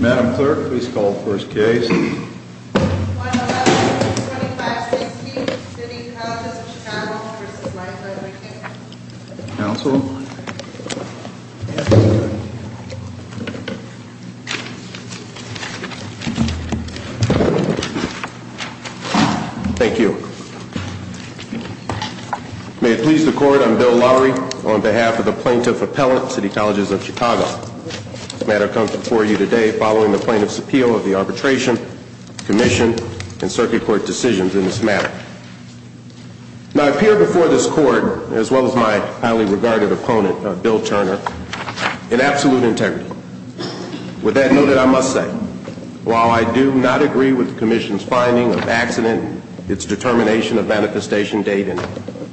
Madam Clerk, please call the first case. 111-2516, City Colleges of Chicago v. Michael and McCain. Counsel? Thank you. May it please the Court, I'm Bill Lowry, on behalf of the Plaintiff Appellate, City Colleges of Chicago. This matter comes before you today following the Plaintiff's appeal of the Arbitration, Commission, and Circuit Court decisions in this matter. Now, I appear before this Court, as well as my highly regarded opponent, Bill Turner, in absolute integrity. With that noted, I must say, while I do not agree with the Commission's finding of accident and its determination of manifestation date,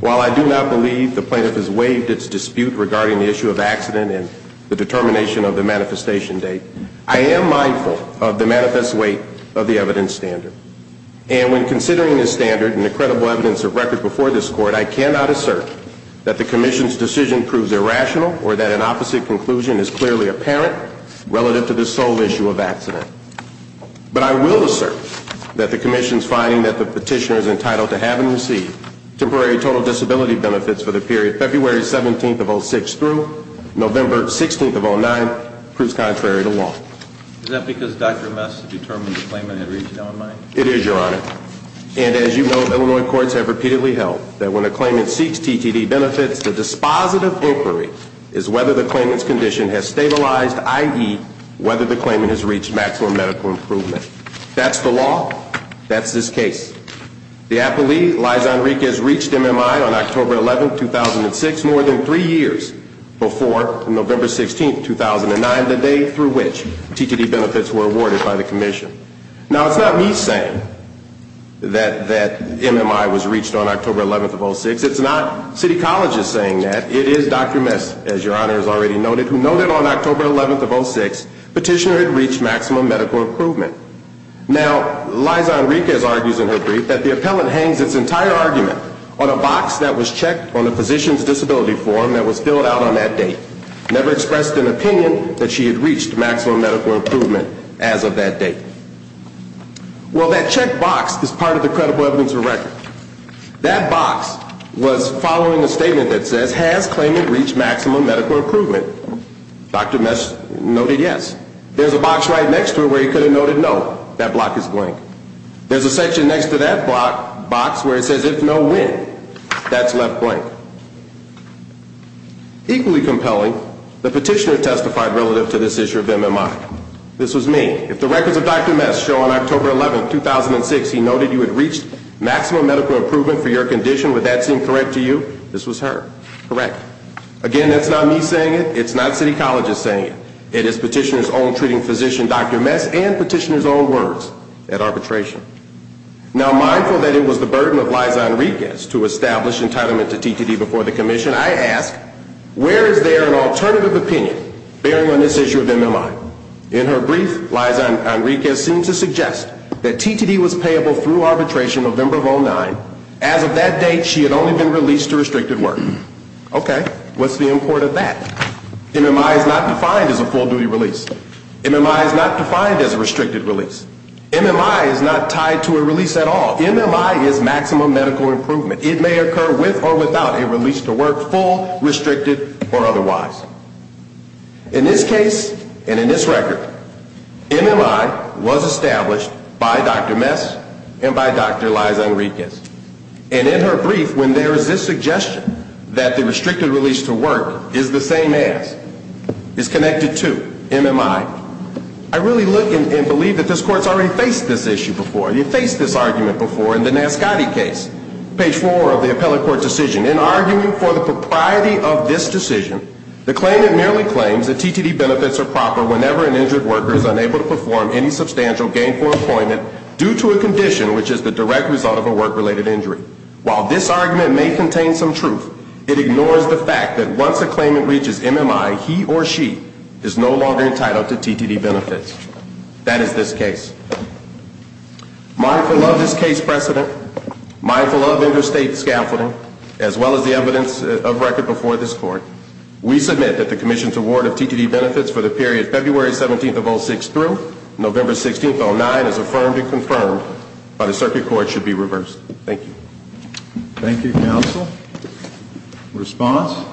while I do not believe the Plaintiff has waived its dispute regarding the issue of accident and the determination of the manifestation date, I am mindful of the manifest weight of the evidence standard. And when considering this standard and the credible evidence of record before this Court, I cannot assert that the Commission's decision proves irrational or that an opposite conclusion is clearly apparent relative to the sole issue of accident. But I will assert that the Commission's finding that the petitioner is entitled to have and receive temporary total disability benefits for the period February 17th of 06 through November 16th of 09 proves contrary to law. Is that because Dr. Mess determined the claimant had reached LMI? It is, Your Honor. And as you know, Illinois courts have repeatedly held that when a claimant seeks TTD benefits, the dispositive inquiry is whether the claimant's condition has stabilized, i.e., whether the claimant has reached maximum medical improvement. That's the law. That's this case. The appellee, Liza Enriquez, reached MMI on October 11th, 2006, more than three years before November 16th, 2009, the day through which TTD benefits were awarded by the Commission. Now, it's not me saying that MMI was reached on October 11th of 06. It's not city colleges saying that. It is Dr. Mess, as Your Honor has already noted, who noted on October 11th of 06 petitioner had reached maximum medical improvement. Now, Liza Enriquez argues in her brief that the appellant hangs its entire argument on a box that was checked on a physician's disability form that was filled out on that date, never expressed an opinion that she had reached maximum medical improvement as of that date. Well, that checked box is part of the credible evidence of record. That box was following a statement that says, has claimant reached maximum medical improvement? Dr. Mess noted yes. There's a box right next to it where he could have noted no. That block is blank. There's a section next to that box where it says, if no, when? That's left blank. Equally compelling, the petitioner testified relative to this issue of MMI. This was me. If the records of Dr. Mess show on October 11th of 2006 he noted you had reached maximum medical improvement for your condition, would that seem correct to you? This was her. Correct. Again, that's not me saying it. It's not city colleges saying it. It is petitioner's own treating physician, Dr. Mess, and petitioner's own words at arbitration. Now, mindful that it was the burden of Liza Enriquez to establish entitlement to TTD before the commission, I ask, where is there an alternative opinion bearing on this issue of MMI? In her brief, Liza Enriquez seemed to suggest that TTD was payable through arbitration November of 2009. As of that date, she had only been released to restricted work. Okay. What's the import of that? MMI is not defined as a full-duty release. MMI is not defined as a restricted release. MMI is not tied to a release at all. MMI is maximum medical improvement. It may occur with or without a release to work, full, restricted, or otherwise. In this case, and in this record, MMI was established by Dr. Mess and by Dr. Liza Enriquez. And in her brief, when there is this suggestion that the restricted release to work is the same as, is connected to, MMI, I really look and believe that this Court has already faced this issue before. It faced this argument before in the Nascotti case, page 4 of the appellate court decision. In arguing for the propriety of this decision, the claimant merely claims that TTD benefits are proper whenever an injured worker is unable to perform any substantial gainful employment due to a condition which is the direct result of a work-related injury. While this argument may contain some truth, it ignores the fact that once a claimant reaches MMI, he or she is no longer entitled to TTD benefits. That is this case. Mindful of this case precedent, mindful of interstate scaffolding, as well as the evidence of record before this Court, we submit that the Commission's award of TTD benefits for the period February 17th of 06 through November 16th of 09 is affirmed and confirmed, but a circuit court should be reversed. Thank you. Thank you, Counsel. Response?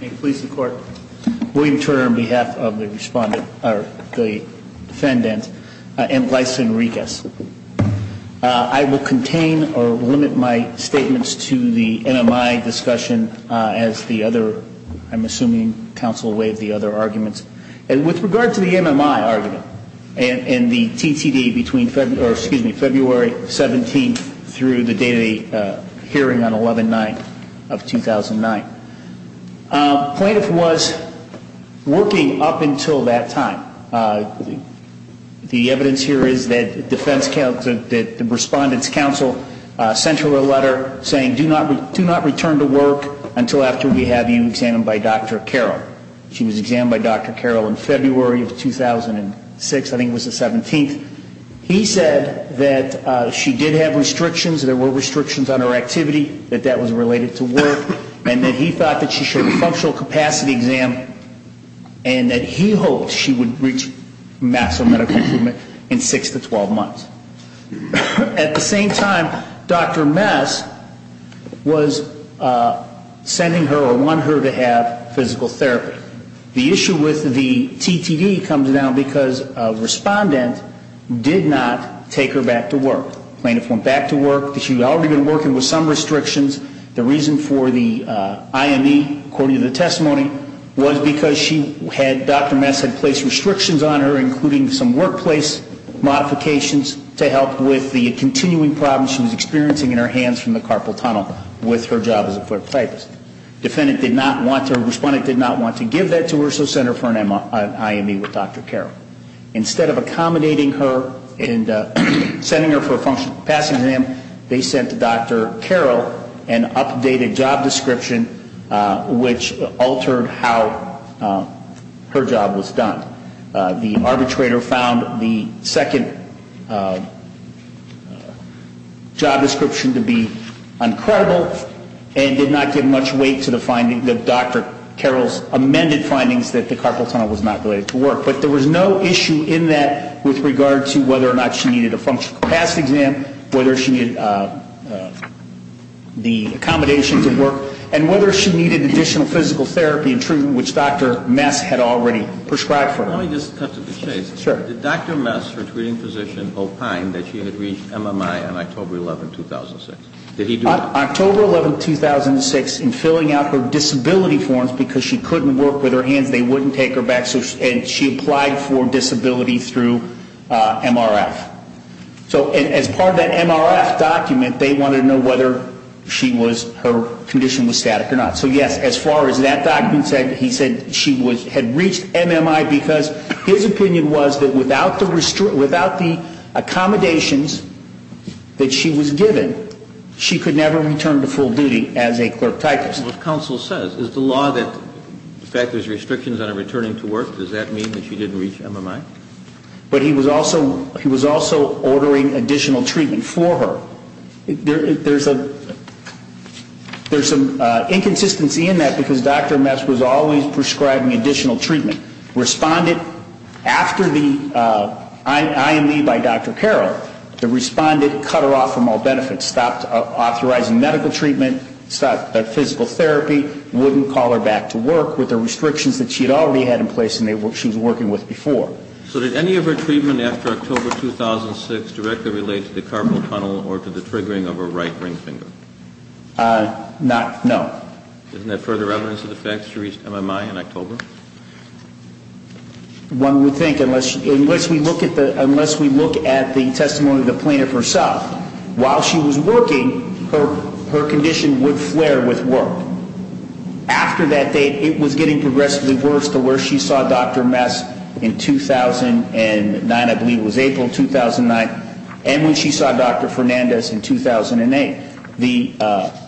May it please the Court. William Turner on behalf of the defendant, M. Liza Enriquez. I will contain or limit my statements to the MMI discussion as the other, I'm assuming Counsel waived the other arguments. And with regard to the MMI argument and the TTD between February 17th through the day-to-day hearing on 11-9 of 2009, plaintiff was working up until that time. The evidence here is that the Respondent's Counsel sent her a letter saying, do not return to work until after we have you examined by Dr. Carroll. She was examined by Dr. Carroll in February of 2006, I think it was the 17th. He said that she did have restrictions, there were restrictions on her activity, that that was related to work. And that he thought that she should have a functional capacity exam and that he hoped she would reach massive medical improvement in six to 12 months. At the same time, Dr. Mess was sending her or wanted her to have physical therapy. The issue with the TTD comes down because Respondent did not take her back to work. Plaintiff went back to work. She had already been working with some restrictions. The reason for the IME, according to the testimony, was because she had, Dr. Mess had placed restrictions on her, including some workplace modifications, to help with the continuing problems she was experiencing in her hands from the carpal tunnel with her job as a foot therapist. Defendant did not want to, Respondent did not want to give that to her, so sent her for an IME with Dr. Carroll. Instead of accommodating her and sending her for a functional capacity exam, they sent Dr. Carroll an updated job description which altered how her job was done. The arbitrator found the second job description to be uncredible and did not give much weight to the finding that Dr. Carroll's amended findings that the carpal tunnel was not related to work. But there was no issue in that with regard to whether or not she needed a functional capacity exam, whether she needed the accommodations at work, and whether she needed additional physical therapy and treatment which Dr. Mess had already prescribed for her. Let me just touch on two things. Sure. Did Dr. Mess, her treating physician, opine that she had reached MMI on October 11, 2006? October 11, 2006, in filling out her disability forms because she couldn't work with her hands, they wouldn't take her back, and she applied for disability through MRF. So as part of that MRF document, they wanted to know whether she was, her condition was static or not. So yes, as far as that document said, he said she had reached MMI because his opinion was that without the accommodations that she was given, she could never return to full duty as a clerk typist. What counsel says, is the law that factors restrictions on her returning to work, does that mean that she didn't reach MMI? But he was also ordering additional treatment for her. There's an inconsistency in that because Dr. Mess was always prescribing additional treatment. Respondent, after the IME by Dr. Carroll, the respondent cut her off from all benefits, stopped authorizing medical treatment, stopped physical therapy, wouldn't call her back to work with the restrictions that she had already had in place and she was working with before. So did any of her treatment after October 2006 directly relate to the carpal tunnel or to the triggering of her right ring finger? Not, no. Isn't there further evidence of the fact that she reached MMI in October? One would think, unless we look at the testimony of the plaintiff herself, while she was working, her condition would flare with work. After that date, it was getting progressively worse to where she saw Dr. Mess in 2009, I believe it was April 2009, and when she saw Dr. Fernandez in 2008.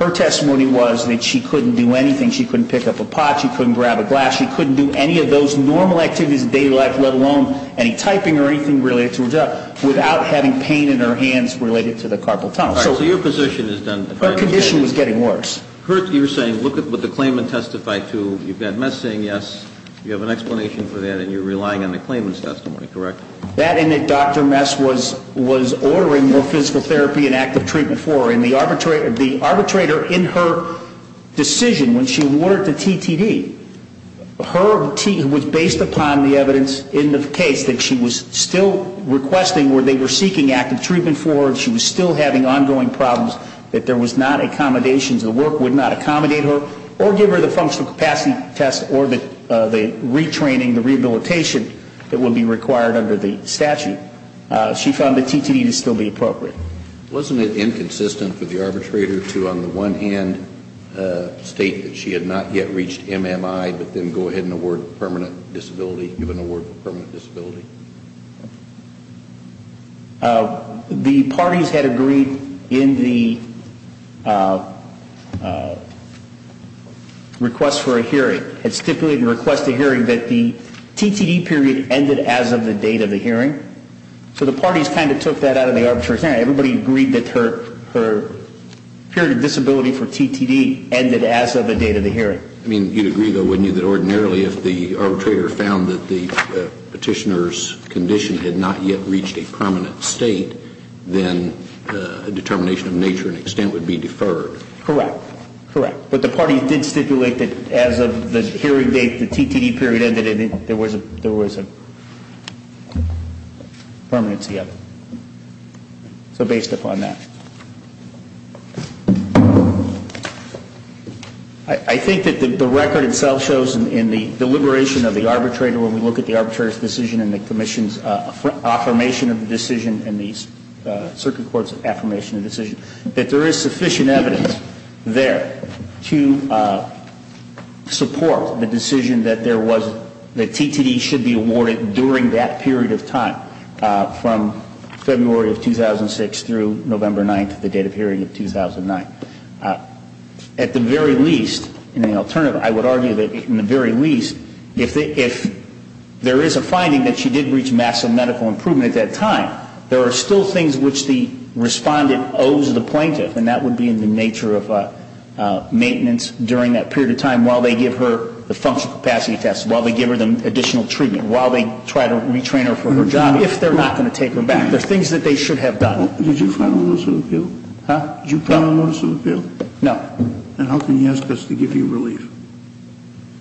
Her testimony was that she couldn't do anything. She couldn't pick up a pot. She couldn't grab a glass. She couldn't do any of those normal activities in daily life, let alone any typing or anything related to her job, without having pain in her hands related to the carpal tunnel. All right. So your position is then that her condition was getting worse. Kurt, you're saying look at what the claimant testified to. You've got Mess saying yes. You have an explanation for that and you're relying on the claimant's testimony, correct? That and that Dr. Mess was ordering more physical therapy and active treatment for her. And the arbitrator in her decision, when she ordered the TTD, her T was based upon the evidence in the case that she was still requesting, where they were seeking active treatment for her and she was still having ongoing problems, that there was not accommodations, the work would not accommodate her, or give her the functional capacity test or the retraining, the rehabilitation that would be required under the statute. She found the TTD to still be appropriate. Wasn't it inconsistent for the arbitrator to, on the one hand, state that she had not yet reached MMI, but then go ahead and award permanent disability, give an award for permanent disability? The parties had agreed in the request for a hearing, had stipulated in the request for a hearing that the TTD period ended as of the date of the hearing. So the parties kind of took that out of the arbitrator's hand. Everybody agreed that her period of disability for TTD ended as of the date of the hearing. I mean, you'd agree, though, wouldn't you, that ordinarily if the arbitrator found that the petitioner's condition had not yet reached a permanent state, then a determination of nature and extent would be deferred? Correct. Correct. But the parties did stipulate that as of the hearing date, the TTD period ended, there was a permanency of it. So based upon that. I think that the record itself shows in the deliberation of the arbitrator when we look at the arbitrator's decision and the commission's affirmation of the decision and the circuit court's affirmation of the decision, that there is sufficient evidence there to support the decision that there was, that TTD should be awarded during that period of time from February of 2006 through November 9th, the date of hearing of 2009. At the very least, in the alternative, I would argue that in the very least, if there is a finding that she did reach massive medical improvement at that time, there are still things which the Respondent owes the Plaintiff, and that would be in the nature of maintenance during that period of time while they give her the functional capacity test, while they give her the additional treatment, while they try to retrain her for her job, if they're not going to take her back. There are things that they should have done. Did you file a notice of appeal? Huh? Did you file a notice of appeal? No. Then how can you ask us to give you relief?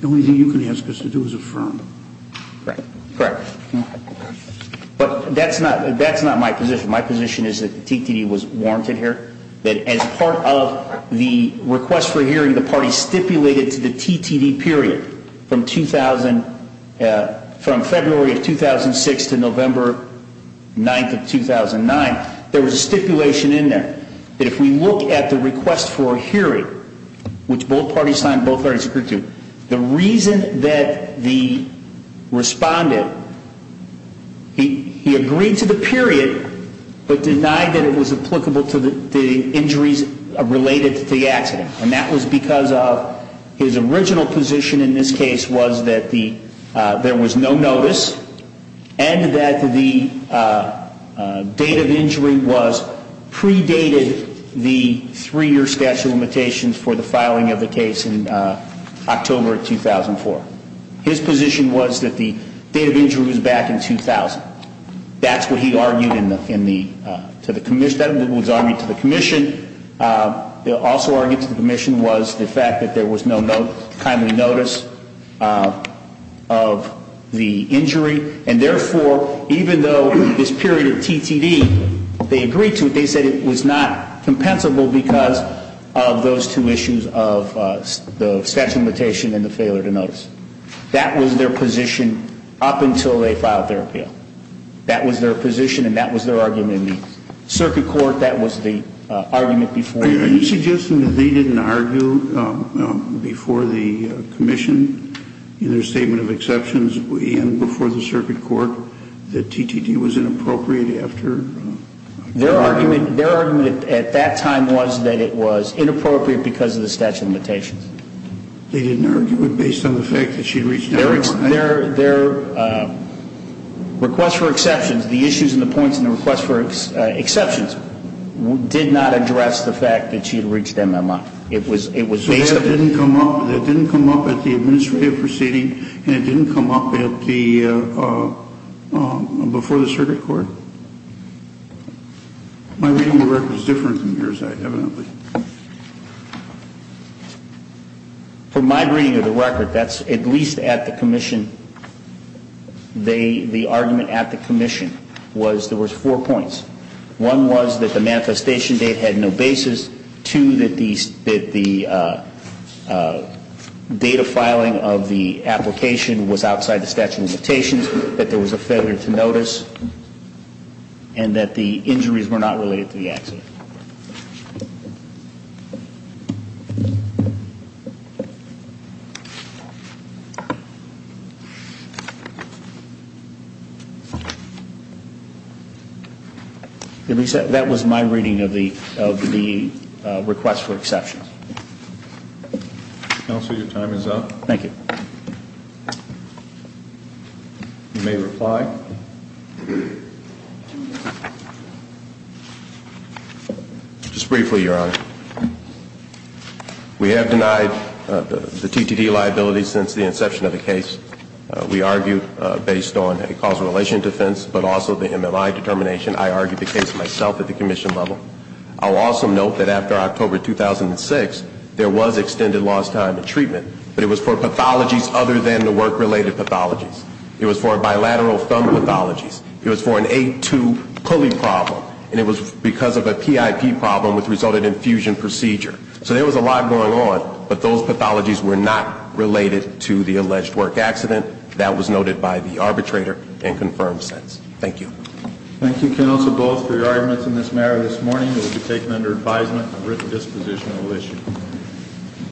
The only thing you can ask us to do is affirm. Correct. Correct. But that's not my position. My position is that the TTD was warranted here, that as part of the request for hearing the party stipulated to the TTD period from February of 2006 to November 9th of 2009, there was a stipulation in there that if we look at the request for hearing, which both parties signed, both parties agreed to, the reason that the Respondent, he agreed to the period, but denied that it was applicable to the injuries related to the accident, and that was because of his original position in this case was that there was no notice and that the date of injury was predated the three-year statute of limitations for the filing of the case in October of 2004. His position was that the date of injury was back in 2000. That's what he argued to the commission. He also argued to the commission was the fact that there was no timely notice of the injury, and therefore, even though this period of TTD, they agreed to it, they said it was not compensable because of those two issues of the statute of limitations and the failure to notice. That was their position up until they filed their appeal. That was their position and that was their argument in the circuit court. That was the argument before. Are you suggesting that they didn't argue before the commission in their statement of exceptions and before the circuit court that TTD was inappropriate after? Their argument at that time was that it was inappropriate because of the statute of limitations. They didn't argue it based on the fact that she reached out to them? Their request for exceptions, the issues and the points in the request for exceptions, did not address the fact that she had reached them that month. It was based on that. So that didn't come up at the administrative proceeding and it didn't come up before the circuit court? My reading of the record is different from yours, evidently. From my reading of the record, that's at least at the commission, the argument at the commission was there was four points. One was that the manifestation date had no basis. Two, that the data filing of the application was outside the statute of limitations, that there was a failure to notice, and that the injuries were not related to the accident. Thank you. That was my reading of the request for exceptions. Counsel, your time is up. Thank you. You may reply. Just briefly, Your Honor. We have denied the TTT liability since the inception of the case. We argued based on a causal relation defense, but also the MMI determination. I argued the case myself at the commission level. I'll also note that after October 2006, there was extended lost time in treatment, but it was for pathologies other than the work-related pathologies. It was for bilateral thumb pathologies. It was for an A2 pulley problem. And it was because of a PIP problem which resulted in fusion procedure. So there was a lot going on, but those pathologies were not related to the alleged work accident. That was noted by the arbitrator and confirmed sense. Thank you. Thank you, counsel, both for your arguments in this matter this morning. It will be taken under advisement, a written disposition will issue.